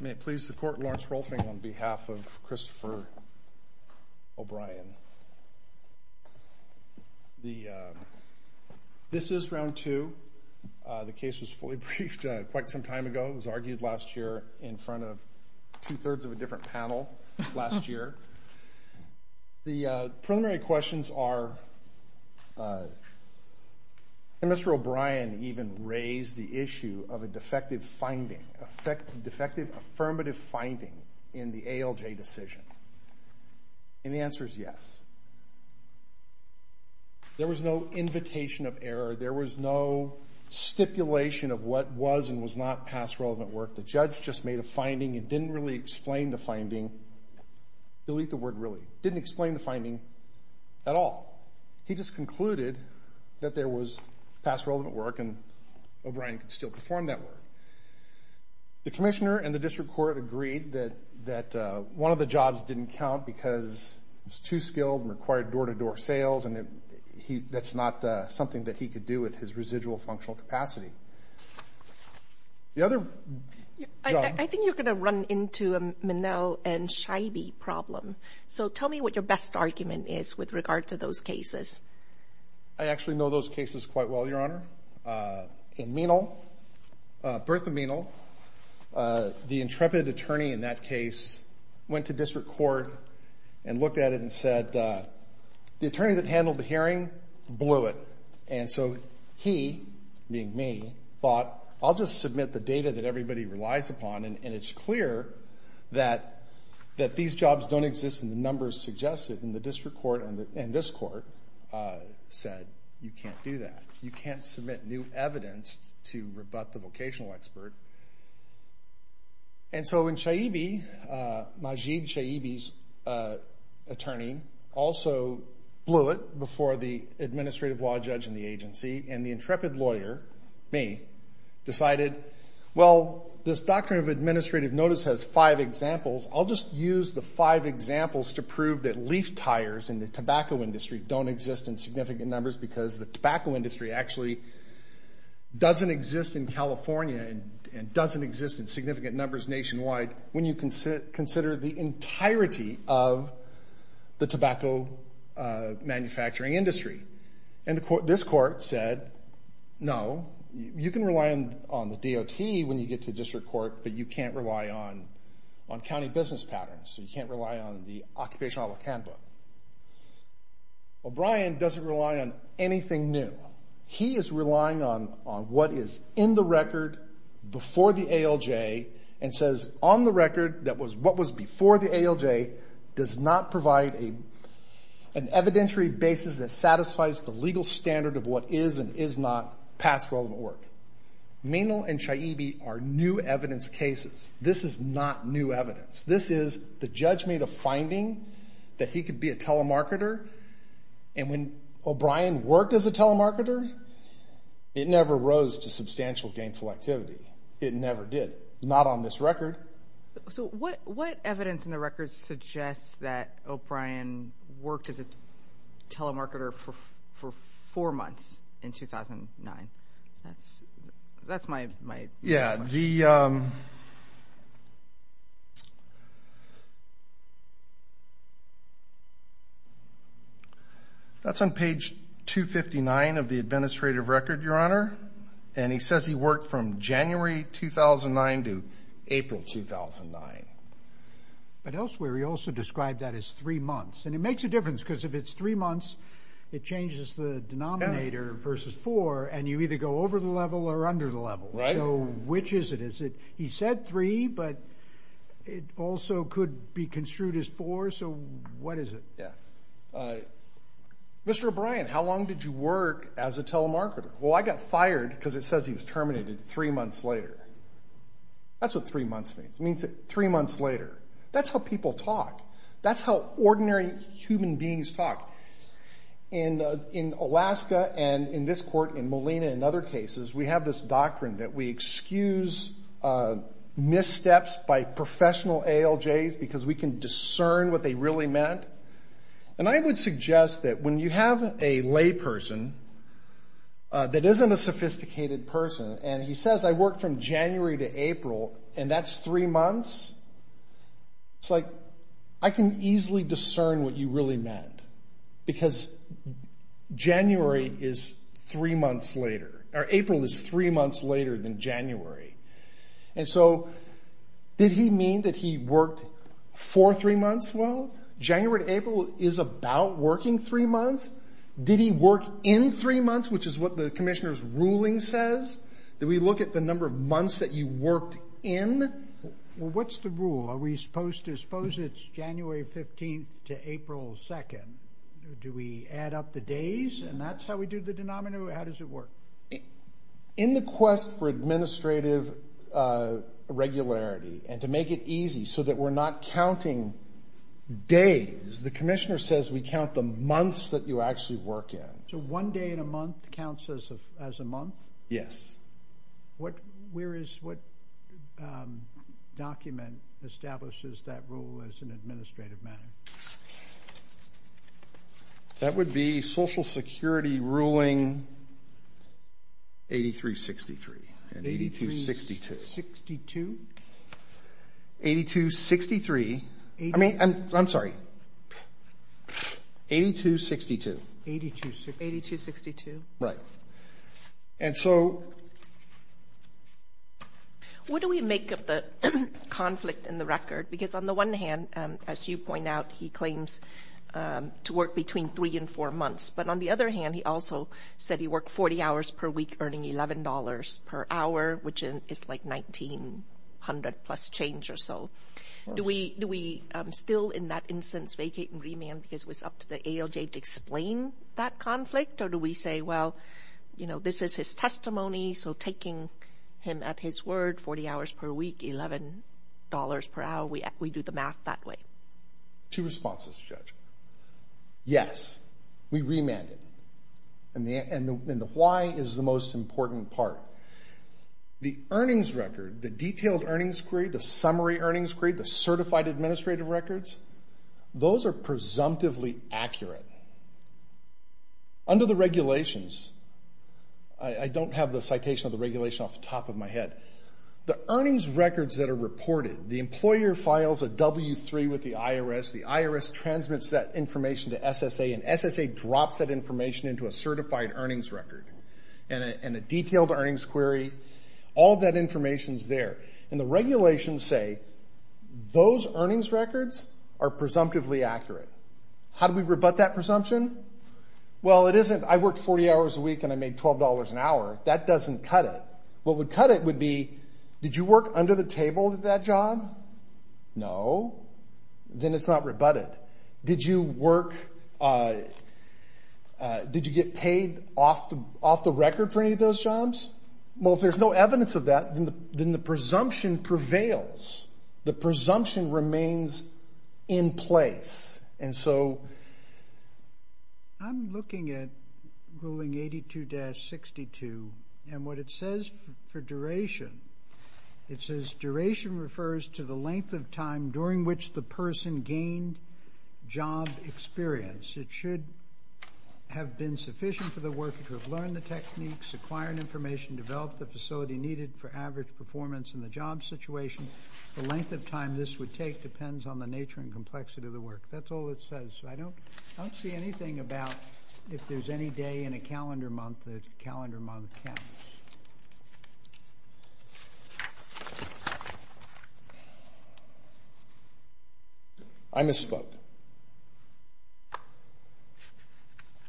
May it please the Court, Lawrence Rolfing on behalf of Christopher O'Brien. This is round two. The case was fully briefed quite some time ago. It was argued last year in front of two-thirds of a different panel last year. The primary questions are, did Mr. O'Brien even raise the issue of a defective finding, a defective affirmative finding in the ALJ decision? And the answer is yes. There was no invitation of error. There was no stipulation of what was and was not past relevant work. The judge just made a finding and didn't really explain the finding. He just concluded that there was past relevant work and O'Brien could still perform that work. The commissioner and the district court agreed that one of the jobs didn't count because it was too skilled and required door-to-door sales and that's not something that he could do with his residual functional capacity. The other job — I think you're going to run into a Minnell and Scheibe problem. So tell me what your best argument is with regard to those cases. I actually know those cases quite well, Your Honor. In Menal, Bertha Menal, the intrepid attorney in that case went to district court and looked at it and said, the attorney that handled the hearing blew it. And so he, being me, thought, I'll just submit the data that everybody relies upon and it's clear that these jobs don't exist and the numbers suggest it. And the district court and this court said, you can't do that. You can't submit new evidence to rebut the vocational expert. And so when Scheibe, Majid Scheibe's attorney, also blew it before the administrative law judge in the agency and the intrepid lawyer, me, decided, well, this doctrine of administrative notice has five examples. I'll just use the five examples to prove that leaf tires in the tobacco industry don't exist in significant numbers because the tobacco industry actually doesn't exist in California and doesn't exist in significant numbers nationwide when you consider the entirety of the tobacco manufacturing industry. And this court said, no, you can rely on the DOT when you get to district court, but you can't rely on county business patterns. You can't rely on the Occupational Health Handbook. O'Brien doesn't rely on anything new. He is relying on what is in the record before the ALJ and says on the record that what was before the ALJ does not provide an evidentiary basis that satisfies the legal standard of what is and is not past relevant work. Mainville and Scheibe are new evidence cases. This is not new evidence. This is the judgment of finding that he could be a telemarketer and when O'Brien worked as a telemarketer, it never rose to substantial gainful activity. It never did. Not on this record. So what evidence in the records suggests that O'Brien worked as a telemarketer for four months in 2009? That's my... Yeah, the... That's on page 259 of the administrative record, Your Honor. And he says he worked from January 2009 to April 2009. But elsewhere, he also described that as three months. And it makes a difference because if it's three months, it changes the denominator versus four So which is it? Is it... He said three, but it also could be construed as four. So what is it? Yeah. Mr. O'Brien, how long did you work as a telemarketer? Well, I got fired because it says he was terminated three months later. That's what three months means. It means that three months later. That's how people talk. That's how ordinary human beings talk. In Alaska and in this court in Molina and other cases, we have this doctrine that we excuse missteps by professional ALJs because we can discern what they really meant. And I would suggest that when you have a layperson that isn't a sophisticated person, and he says I worked from January to April, and that's three months, it's like I can easily discern what you really meant because April is three months later than January. And so did he mean that he worked for three months? Well, January to April is about working three months. Did he work in three months, which is what the commissioner's ruling says? Did we look at the number of months that you worked in? Well, what's the rule? Are we supposed to suppose it's January 15th to April 2nd? Do we add up the days and that's how we do the denominator? How does it work? In the quest for administrative regularity and to make it easy so that we're not counting days, the commissioner says we count the months that you actually work in. So one day in a month counts as a month? Yes. What document establishes that rule as an administrative matter? That would be Social Security ruling 8363 and 8262. 8362? 8263. I mean, I'm sorry. 8262. 8262. Right. And so... What do we make of the conflict in the record? Because on the one hand, as you point out, he claims to work between three and four months. But on the other hand, he also said he worked 40 hours per week earning $11 per hour, which is like $1,900 plus change or so. Do we still in that instance vacate and remand because it was up to the ALJ to explain that conflict? Or do we say, well, you know, this is his testimony. So taking him at his word, 40 hours per week, $11 per hour, we do the math that way. Two responses, Judge. Yes, we remanded. And the why is the most important part. The earnings record, the detailed earnings grade, the summary earnings grade, the certified administrative records, those are presumptively accurate. Under the regulations, I don't have the citation of the regulation off the top of my head. The earnings records that are reported, the employer files a W-3 with the IRS, the IRS transmits that information to SSA, and SSA drops that information into a certified earnings record and a detailed earnings query. All of that information is there. And the regulations say those earnings records are presumptively accurate. How do we rebut that presumption? Well, it isn't, I worked 40 hours a week and I made $12 an hour. That doesn't cut it. What would cut it would be, did you work under the table at that job? No, then it's not rebutted. Did you work, did you get paid off the record for any of those jobs? Well, if there's no evidence of that, then the presumption prevails. The presumption remains in place. So I'm looking at ruling 82-62, and what it says for duration, it says duration refers to the length of time during which the person gained job experience. It should have been sufficient for the worker to have learned the techniques, acquired information, developed the facility needed for average performance in the job situation. The length of time this would take depends on the nature and complexity of the work. That's all it says. I don't see anything about if there's any day in a calendar month that calendar month counts. I misspoke.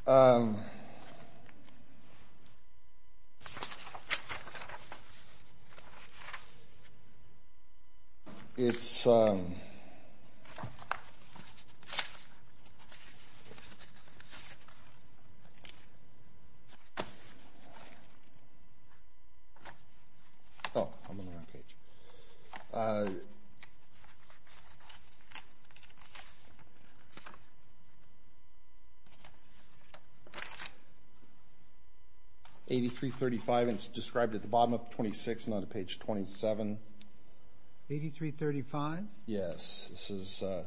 Um, it's, um, oh, I'm on the wrong page. 83-35, it's described at the bottom of 26 and on the page 27. 83-35? Yes. This is, uh,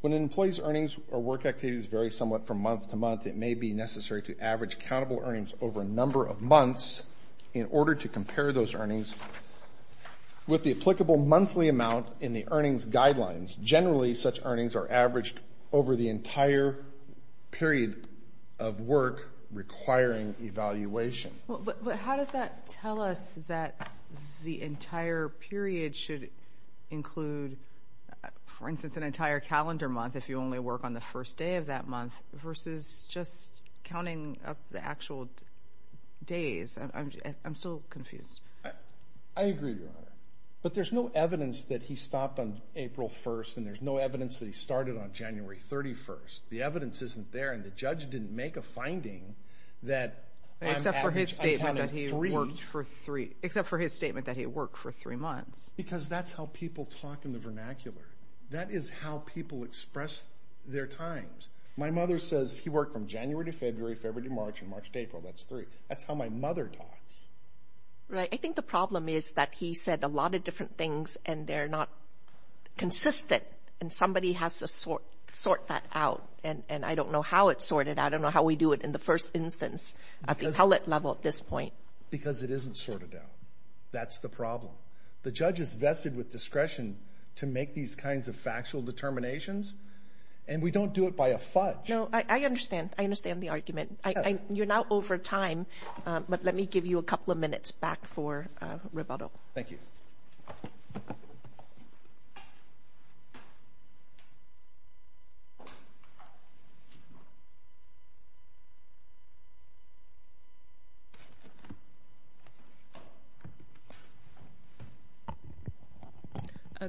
when an employee's earnings or work activities vary somewhat from month to month, it may be necessary to average countable earnings over a number of months in order to compare those earnings with the applicable monthly amount in the earnings guidelines. Generally, such earnings are averaged over the entire period of work requiring evaluation. Well, but how does that tell us that the entire period should include, for instance, an entire calendar month if you only work on the first day of that month versus just counting up the actual days? I'm so confused. I agree, Your Honor. But there's no evidence that he stopped on April 1st, and there's no evidence that he started on January 31st. The evidence isn't there, and the judge didn't make a finding that... Except for his statement that he worked for three months. Because that's how people talk in the vernacular. That is how people express their times. My mother says he worked from January to February, February to March, and March to April. That's three. That's how my mother talks. Right. I think the problem is that he said a lot of different things, and they're not consistent, and somebody has to sort that out. And I don't know how it's sorted. I don't know how we do it in the first instance at the pellet level at this point. Because it isn't sorted out. That's the problem. The judge is vested with discretion to make these kinds of factual determinations, and we don't do it by a fudge. No, I understand. I understand the argument. You're now over time, but let me give you a couple of minutes back for rebuttal. Thank you.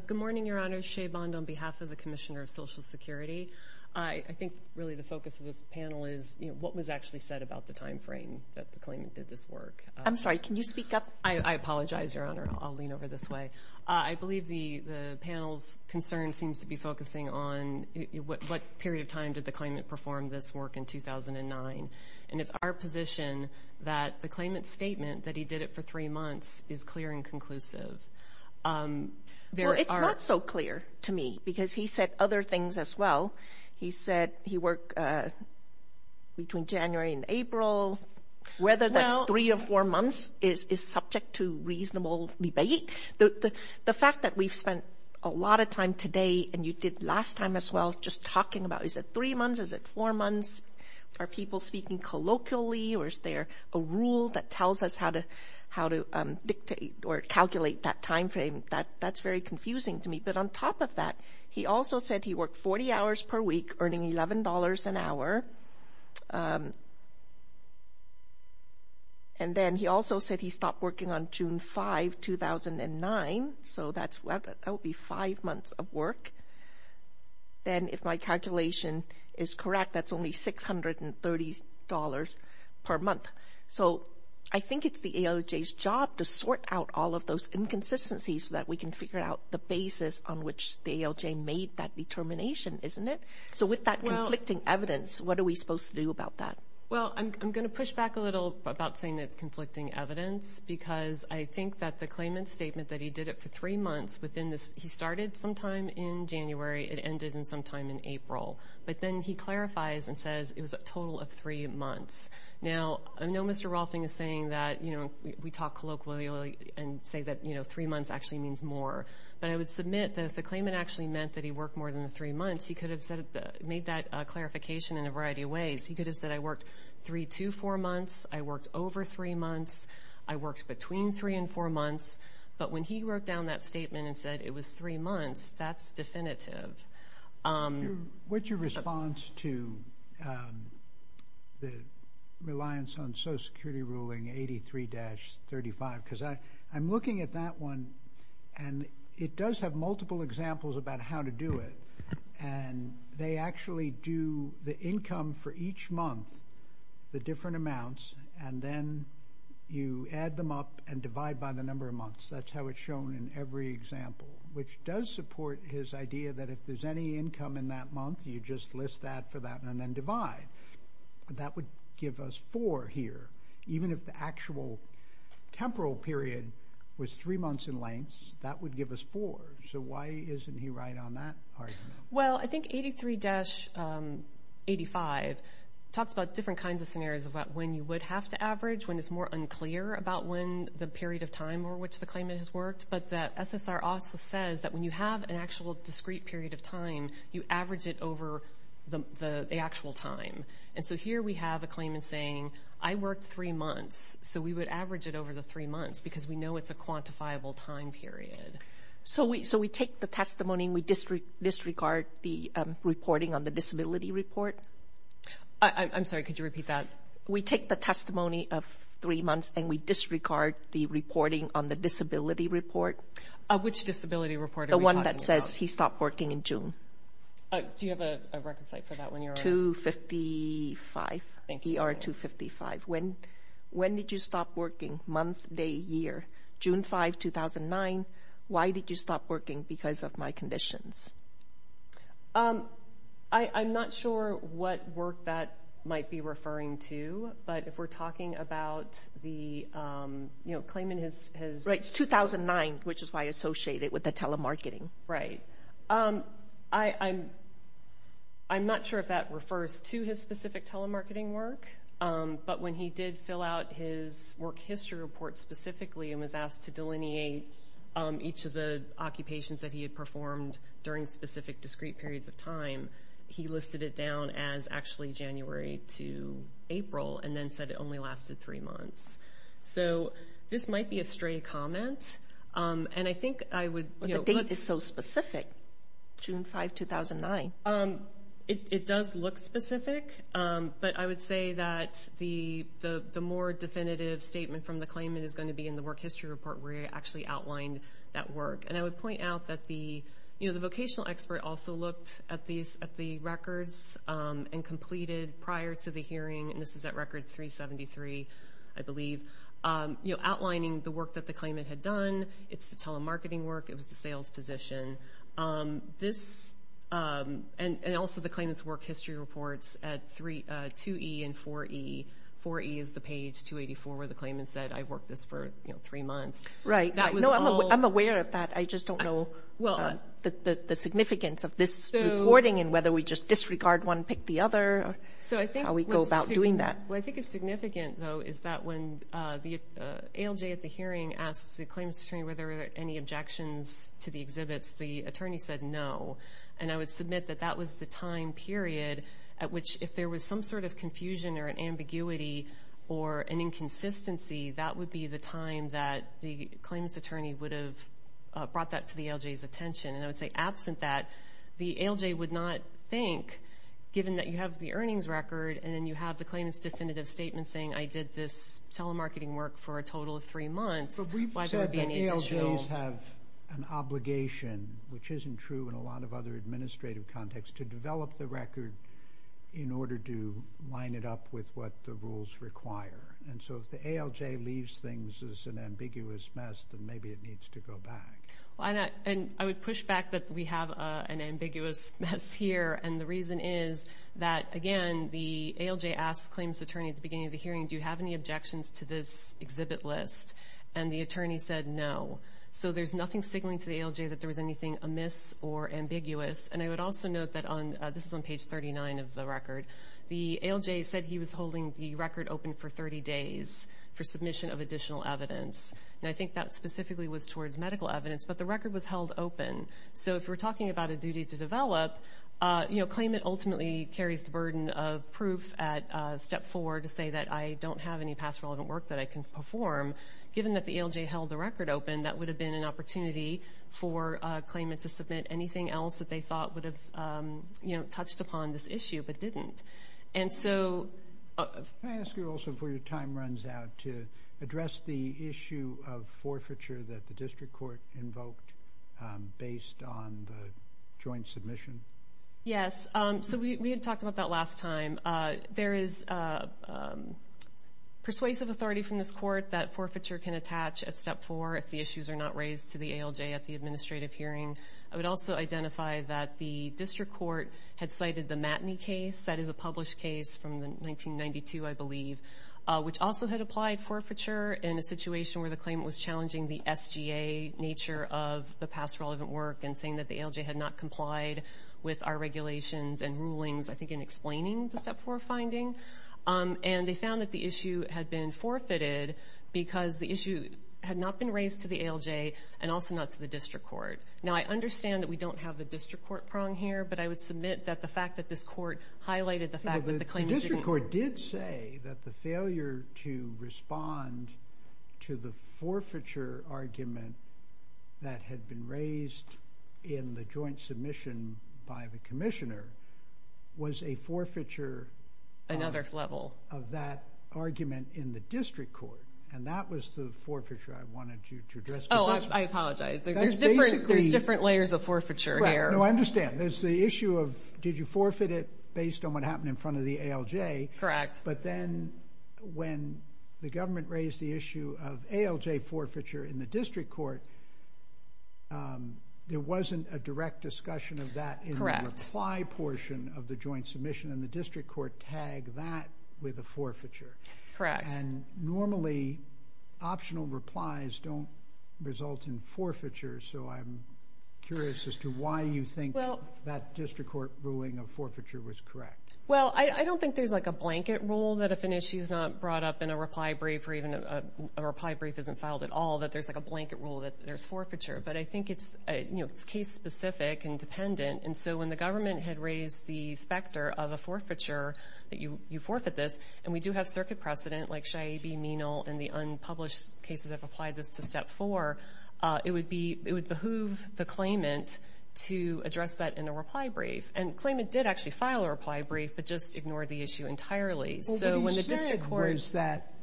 Good morning, Your Honor. Shea Bond on behalf of the Commissioner of Social Security. I think really the focus of this panel is what was actually said about the time frame that the claimant did this work. I'm sorry. Can you speak up? I apologize, Your Honor. I'll lean over this way. I believe the panel's concern seems to be focusing on what period of time did the claimant perform this work in 2009. And it's our position that the claimant's statement that he did it for three months is clear and conclusive. Well, it's not so clear to me because he said other things as well. He said he worked between January and April. Whether that's three or four months is subject to reasonable debate. The fact that we've spent a lot of time today, and you did last time as well, just talking about is it three months? Is it four months? Are people speaking colloquially? Or is there a rule that tells us how to dictate or calculate that time frame? That's very confusing to me. But on top of that, he also said he worked 40 hours per week earning $11 an hour. And then he also said he stopped working on June 5, 2009. So that would be five months of work. And then if my calculation is correct, that's only $630 per month. So I think it's the ALJ's job to sort out all of those inconsistencies so that we can figure out the basis on which the ALJ made that determination, isn't it? So with that conflicting evidence, what are we supposed to do about that? Well, I'm going to push back a little about saying it's conflicting evidence because I think that the claimant's statement that he did it for three months within this, he started sometime in January. It ended in sometime in April. But then he clarifies and says it was a total of three months. Now, I know Mr. Rolfing is saying that, you know, we talk colloquially and say that, you know, three months actually means more. But I would submit that if the claimant actually meant that he worked more than three months, he could have said, made that clarification in a variety of ways. He could have said, I worked three to four months. I worked over three months. I worked between three and four months. But when he wrote down that statement and said it was three months, that's definitive. What's your response to the reliance on Social Security ruling 83-35? Because I'm looking at that one and it does have multiple examples about how to do it. And they actually do the income for each month, the different amounts, and then you add them up and divide by the number of months. That's how it's shown in every example, which does support his idea that if there's any income in that month, you just list that for that and then divide. That would give us four here. Even if the actual temporal period was three months in length, that would give us four. So why isn't he right on that argument? Well, I think 83-85 talks about different kinds of scenarios about when you would have to average, when it's more unclear about when the period of time for which the claimant has worked. But the SSR also says that when you have an actual discrete period of time, you average it over the actual time. And so here we have a claimant saying, I worked three months. So we would average it over the three months because we know it's a quantifiable time period. So we take the testimony and we disregard the reporting on the disability report? I'm sorry, could you repeat that? We take the testimony of three months and we disregard the reporting on the disability report. Which disability report are we talking about? The one that says he stopped working in June. Do you have a record site for that when you're... 255, ER 255. When did you stop working, month, day, year? June 5, 2009. Why did you stop working? Because of my conditions. I'm not sure what work that might be referring to. But if we're talking about the, you know, claimant has... Right, it's 2009, which is why I associate it with the telemarketing. Right, I'm not sure if that refers to his specific telemarketing work. But when he did fill out his work history report specifically and was asked to delineate each of the occupations that he had performed during specific discrete periods of time, he listed it down as actually January to April and then said it only lasted three months. So this might be a stray comment. And I think I would... But the date is so specific, June 5, 2009. It does look specific. But I would say that the more definitive statement from the claimant is going to be in the work history report where he actually outlined that work. And I would point out that the vocational expert also looked at the records and completed prior to the hearing, and this is at record 373, I believe, outlining the work that the claimant had done. It's the telemarketing work. It was the sales position. And also the claimant's work history reports at 2E and 4E. 4E is the page 284 where the claimant said, I've worked this for three months. Right. No, I'm aware of that. I just don't know the significance of this reporting and whether we just disregard one, pick the other, how we go about doing that. What I think is significant, though, is that when the ALJ at the hearing asked the claimant's attorney whether there were any objections to the exhibits, the attorney said no. And I would submit that that was the time period at which if there was some sort of confusion or an ambiguity or an inconsistency, that would be the time that the claimant's attorney would have brought that to the ALJ's attention. And I would say absent that, the ALJ would not think, given that you have the earnings record and then you have the claimant's definitive statement saying I did this telemarketing work for a total of three months, why would there be any additional- But we've said that ALJs have an obligation, which isn't true in a lot of other administrative contexts, to develop the record in order to line it up with what the rules require. And so if the ALJ leaves things as an ambiguous mess, then maybe it needs to go back. Well, and I would push back that we have an ambiguous mess here. And the reason is that, again, the ALJ asked the claimant's attorney at the beginning of the hearing, do you have any objections to this exhibit list? And the attorney said no. So there's nothing signaling to the ALJ that there was anything amiss or ambiguous. And I would also note that on, this is on page 39 of the record, the ALJ said he was holding the record open for 30 days for submission of additional evidence. And I think that specifically was towards medical evidence, but the record was held open. So if we're talking about a duty to develop, claimant ultimately carries the burden of proof at step four to say that I don't have any past relevant work that I can perform. Given that the ALJ held the record open, that would have been an opportunity for a claimant to submit anything else that they thought would have touched upon this issue, but didn't. And so- Can I ask you also before your time runs out to address the issue of forfeiture that the district court invoked based on the joint submission? Yes. So we had talked about that last time. There is persuasive authority from this court that forfeiture can attach at step four if the issues are not raised to the ALJ at the administrative hearing. I would also identify that the district court had cited the Matney case. That is a published case from 1992, I believe, which also had applied forfeiture in a situation where the claimant was challenging the SGA nature of the past relevant work and saying that the ALJ had not complied with our regulations and rulings, I think, in explaining the step four finding. And they found that the issue had been forfeited because the issue had not been raised to the ALJ and also not to the district court. Now, I understand that we don't have the district court prong here, but I would submit that the fact that this court highlighted the fact that the claimant didn't. The district court did say that the failure to respond to the forfeiture argument that had been raised in the joint submission by the commissioner was a forfeiture... Another level. ...of that argument in the district court. And that was the forfeiture I wanted you to address. Oh, I apologize. There's different layers of forfeiture here. No, I understand. There's the issue of did you forfeit it based on what happened in front of the ALJ? Correct. But then when the government raised the issue of ALJ forfeiture in the district court, there wasn't a direct discussion of that in the reply portion of the joint submission and the district court tagged that with a forfeiture. Correct. And normally, optional replies don't result in forfeiture, so I'm curious as to why you think that district court ruling of forfeiture was correct. Well, I don't think there's like a blanket rule that if an issue is not brought up in a reply brief or even a reply brief isn't filed at all, that there's like a blanket rule that there's forfeiture. But I think it's case-specific and dependent. And so when the government had raised the specter of a forfeiture, that you forfeit this, and we do have circuit precedent, like Shiaibi, Menal, and the unpublished cases have applied this to step four, it would behoove the claimant to address that in a reply brief. And the claimant did actually file a reply brief, but just ignored the issue entirely. So when the district court... What you said was that,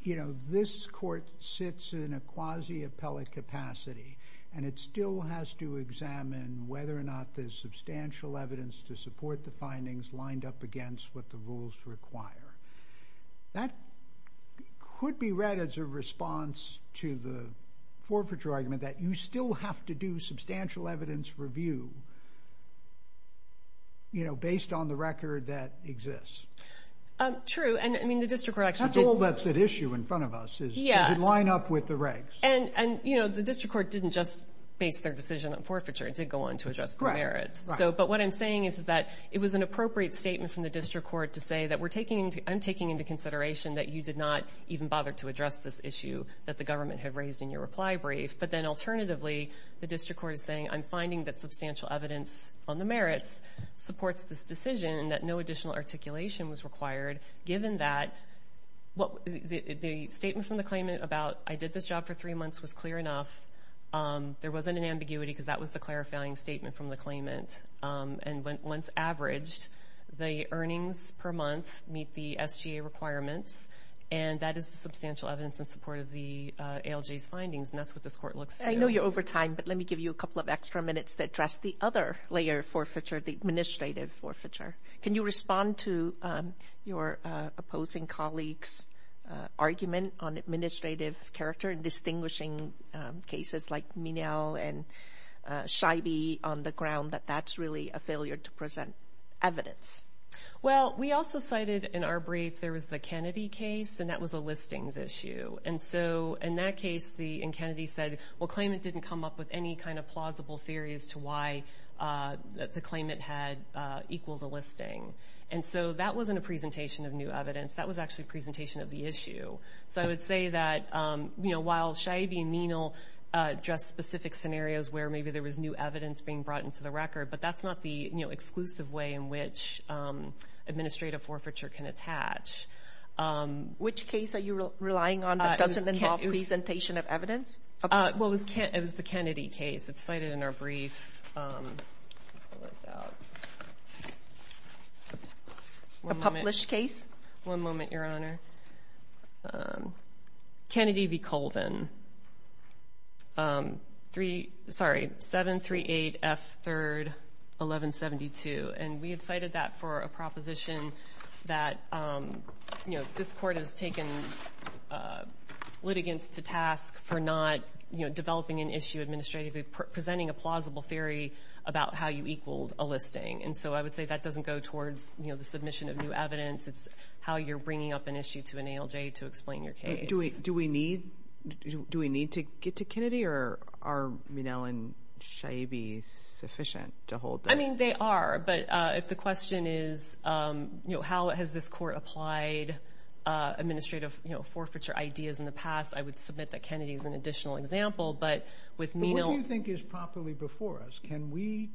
you know, this court sits in a quasi-appellate capacity, and it still has to examine whether or not there's substantial evidence to support the findings lined up against what the rules require. That could be read as a response to the forfeiture argument that you still have to do substantial evidence review, you know, based on the record that exists. True. And, I mean, the district court actually... That's all that's at issue in front of us, is to line up with the regs. And, you know, the district court didn't just base their decision on forfeiture. It did go on to address the merits. So, but what I'm saying is that it was an appropriate statement from the district court to say that we're taking into... I'm taking into consideration that you did not even bother to address this issue that the government had raised in your reply brief. But then, alternatively, the district court is saying, I'm finding that substantial evidence on the merits supports this decision, and that no additional articulation was required, given that the statement from the claimant about I did this job for three months was clear enough. There wasn't an ambiguity because that was the clarifying statement from the claimant. And once averaged, the earnings per month meet the SGA requirements. And that is the substantial evidence in support of the ALJ's findings. And that's what this court looks to. I know you're over time, but let me give you a couple of extra minutes to address the other layer of forfeiture, the administrative forfeiture. Can you respond to your opposing colleague's argument on administrative character in distinguishing cases like Minel and Scheibe on the ground that that's really a failure to present evidence? Well, we also cited in our brief, there was the Kennedy case, and that was a listings issue. And so in that case, the Kennedy said, well, claimant didn't come up with any kind of plausible theories to why the claimant had equal the listing. And so that wasn't a presentation of new evidence. That was actually a presentation of the issue. So I would say that, while Scheibe and Minel address specific scenarios where maybe there was new evidence being brought into the record, but that's not the exclusive way in which administrative forfeiture can attach. Which case are you relying on that doesn't involve presentation of evidence? Well, it was the Kennedy case. It's cited in our brief. A published case? One moment, Your Honor. Kennedy v. Colvin. Sorry, 738 F. 3rd, 1172. And we had cited that for a proposition that this court has taken litigants to task for not developing an issue administratively, presenting a plausible theory about how you equaled a listing. And so I would say that doesn't go towards the submission of new evidence. It's how you're bringing up an issue to an ALJ to explain your case. Do we need to get to Kennedy? Or are Minel and Scheibe sufficient to hold that? I mean, they are. But if the question is, how has this court applied administrative forfeiture ideas in the past? I would submit that Kennedy is an additional example. But with Minel- But what do you think is properly before us? Can we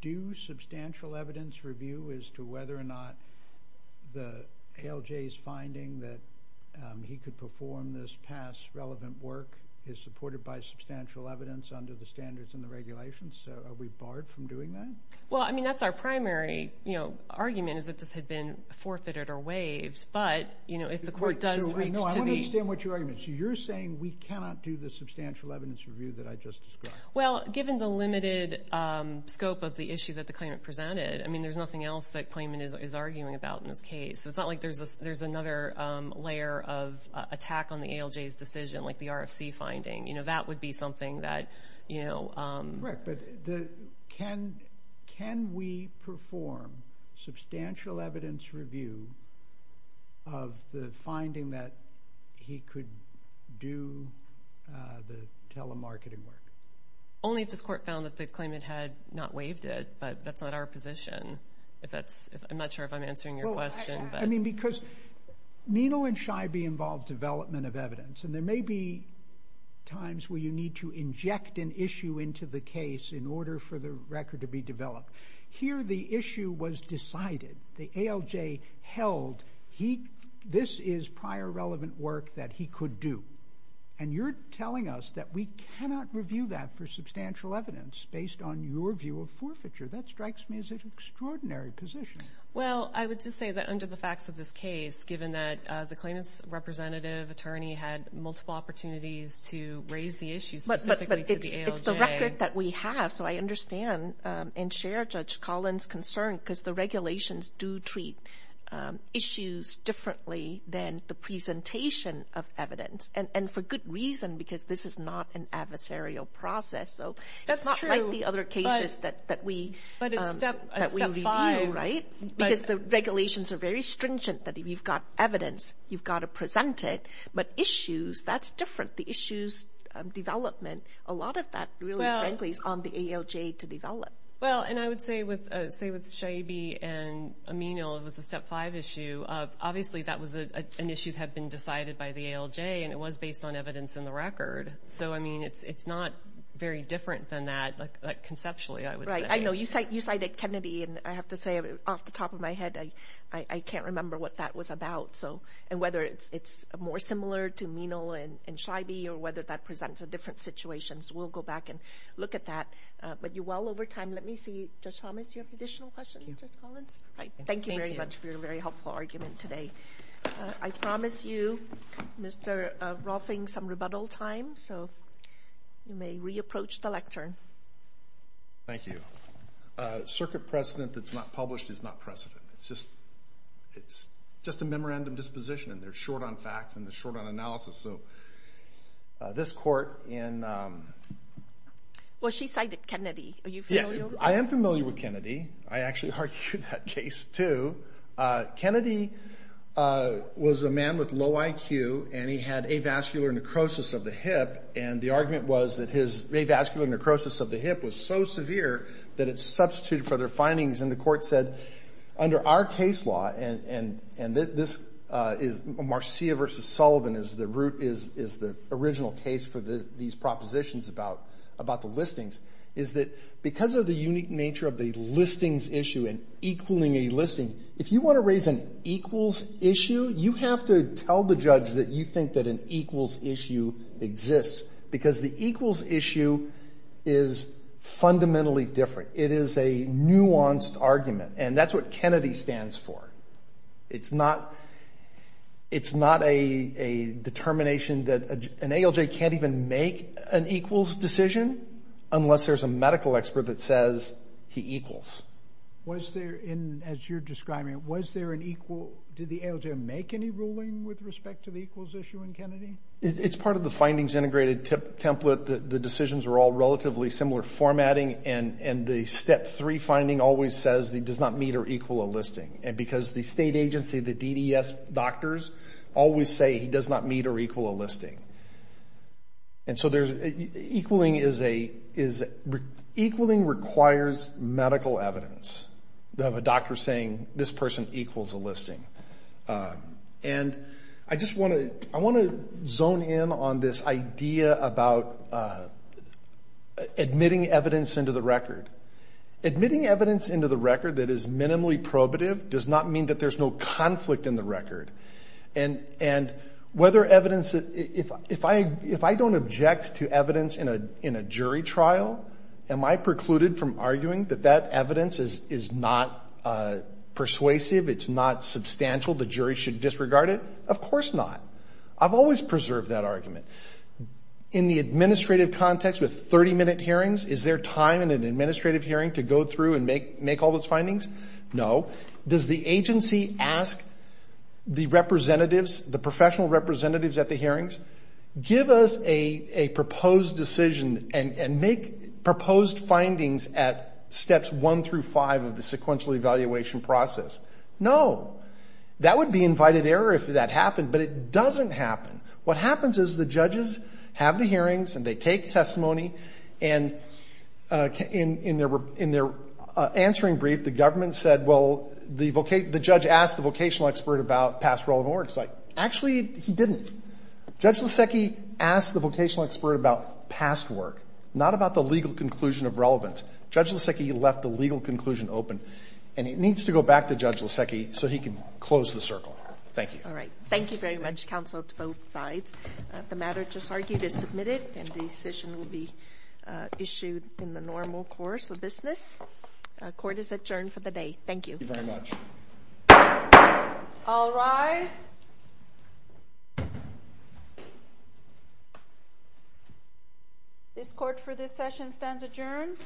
do substantial evidence review as to whether or not the ALJ's finding that he could perform this past relevant work is supported by substantial evidence under the standards and the regulations? So are we barred from doing that? Well, I mean, that's our primary argument is that this had been forfeited or waived. But if the court does reach to the- No, I want to understand what your argument is. You're saying we cannot do the substantial evidence review that I just described. Well, given the limited scope of the issue that the claimant presented, I mean, there's nothing else that claimant is arguing about in this case. It's not like there's another layer of attack on the ALJ's decision, like the RFC finding. That would be something that- Correct, but can we perform substantial evidence review of the finding that he could do the telemarketing work? Only if this court found that the claimant had not waived it, but that's not our position. I'm not sure if I'm answering your question, because Needle and Scheibe involve development of evidence, and there may be times where you need to inject an issue into the case in order for the record to be developed. Here, the issue was decided. The ALJ held this is prior relevant work that he could do. And you're telling us that we cannot review that for substantial evidence based on your view of forfeiture. That strikes me as an extraordinary position. Well, I would just say that under the facts of this case, given that the claimant's representative attorney had multiple opportunities to raise the issue specifically to the ALJ- It's the record that we have, so I understand and share Judge Collins' concern because the regulations do treat issues differently than the presentation of evidence, and for good reason, because this is not an adversarial process. So it's not like the other cases that we review, right? Because the regulations are very stringent, that if you've got evidence, you've got to present it. But issues, that's different. The issues of development, a lot of that really frankly is on the ALJ to develop. Well, and I would say with Scheibe and Amino, it was a step five issue. Obviously, that was an issue that had been decided by the ALJ, and it was based on evidence in the record. So, I mean, it's not very different than that, like conceptually, I would say. Right, I know you cited Kennedy, and I have to say off the top of my head, I can't remember what that was about. So, and whether it's more similar to Amino and Scheibe or whether that presents a different situation. So we'll go back and look at that. But you well over time. Let me see, Judge Thomas, you have additional questions, Judge Collins? Right, thank you very much for your very helpful argument today. I promise you, Mr. Rolfing, some rebuttal time. So you may re-approach the lectern. Thank you. Circuit precedent that's not published is not precedent. It's just a memorandum disposition, and they're short on facts and they're short on analysis. So this court in... Well, she cited Kennedy. Are you familiar? I am familiar with Kennedy. I actually argued that case too. Kennedy was a man with low IQ, and he had avascular necrosis of the hip. And the argument was that his avascular necrosis of the hip was so severe that it substituted for their findings. And the court said, under our case law, and this is Marcia versus Sullivan is the root is the original case for these propositions about the listings, is that because of the unique nature of the listings issue and equaling a listing, if you want to raise an equals issue, you have to tell the judge that you think that an equals issue exists. Because the equals issue is fundamentally different. It is a nuanced argument, and that's what Kennedy stands for. It's not a determination that an ALJ can't even make an equals decision unless there's a medical expert that says he equals. Was there, as you're describing it, was there an equal... Did the ALJ make any ruling with respect to the equals issue in Kennedy? It's part of the findings integrated template. The decisions are all relatively similar formatting, and the step three finding always says he does not meet or equal a listing. And because the state agency, the DDS doctors, always say he does not meet or equal a listing. And so there's, equaling is a, equaling requires medical evidence. They have a doctor saying this person equals a listing. And I just want to zone in on this idea about admitting evidence into the record. Admitting evidence into the record that is minimally probative does not mean that there's no conflict in the record. And whether evidence, if I don't object to evidence in a jury trial, am I precluded from arguing that that evidence is not persuasive, it's not substantial, the jury should disregard it? Of course not. I've always preserved that argument. In the administrative context with 30 minute hearings, is there time in an administrative hearing to go through and make all those findings? No. Does the agency ask the representatives, the professional representatives at the hearings, give us a proposed decision and make proposed findings at steps one through five of the sequential evaluation process? No. That would be invited error if that happened. But it doesn't happen. What happens is the judges have the hearings and they take testimony. And in their answering brief, the government said, well, the judge asked the vocational expert about past relevant work. It's like, actually, he didn't. Judge Lasecki asked the vocational expert about past work, not about the legal conclusion of relevance. Judge Lasecki left the legal conclusion open. And it needs to go back to Judge Lasecki so he can close the circle. Thank you. All right. Thank you very much, counsel, to both sides. The matter just argued is submitted and the decision will be issued in the normal course of business. Court is adjourned for the day. Thank you. Thank you very much. All rise. This court for this session stands adjourned.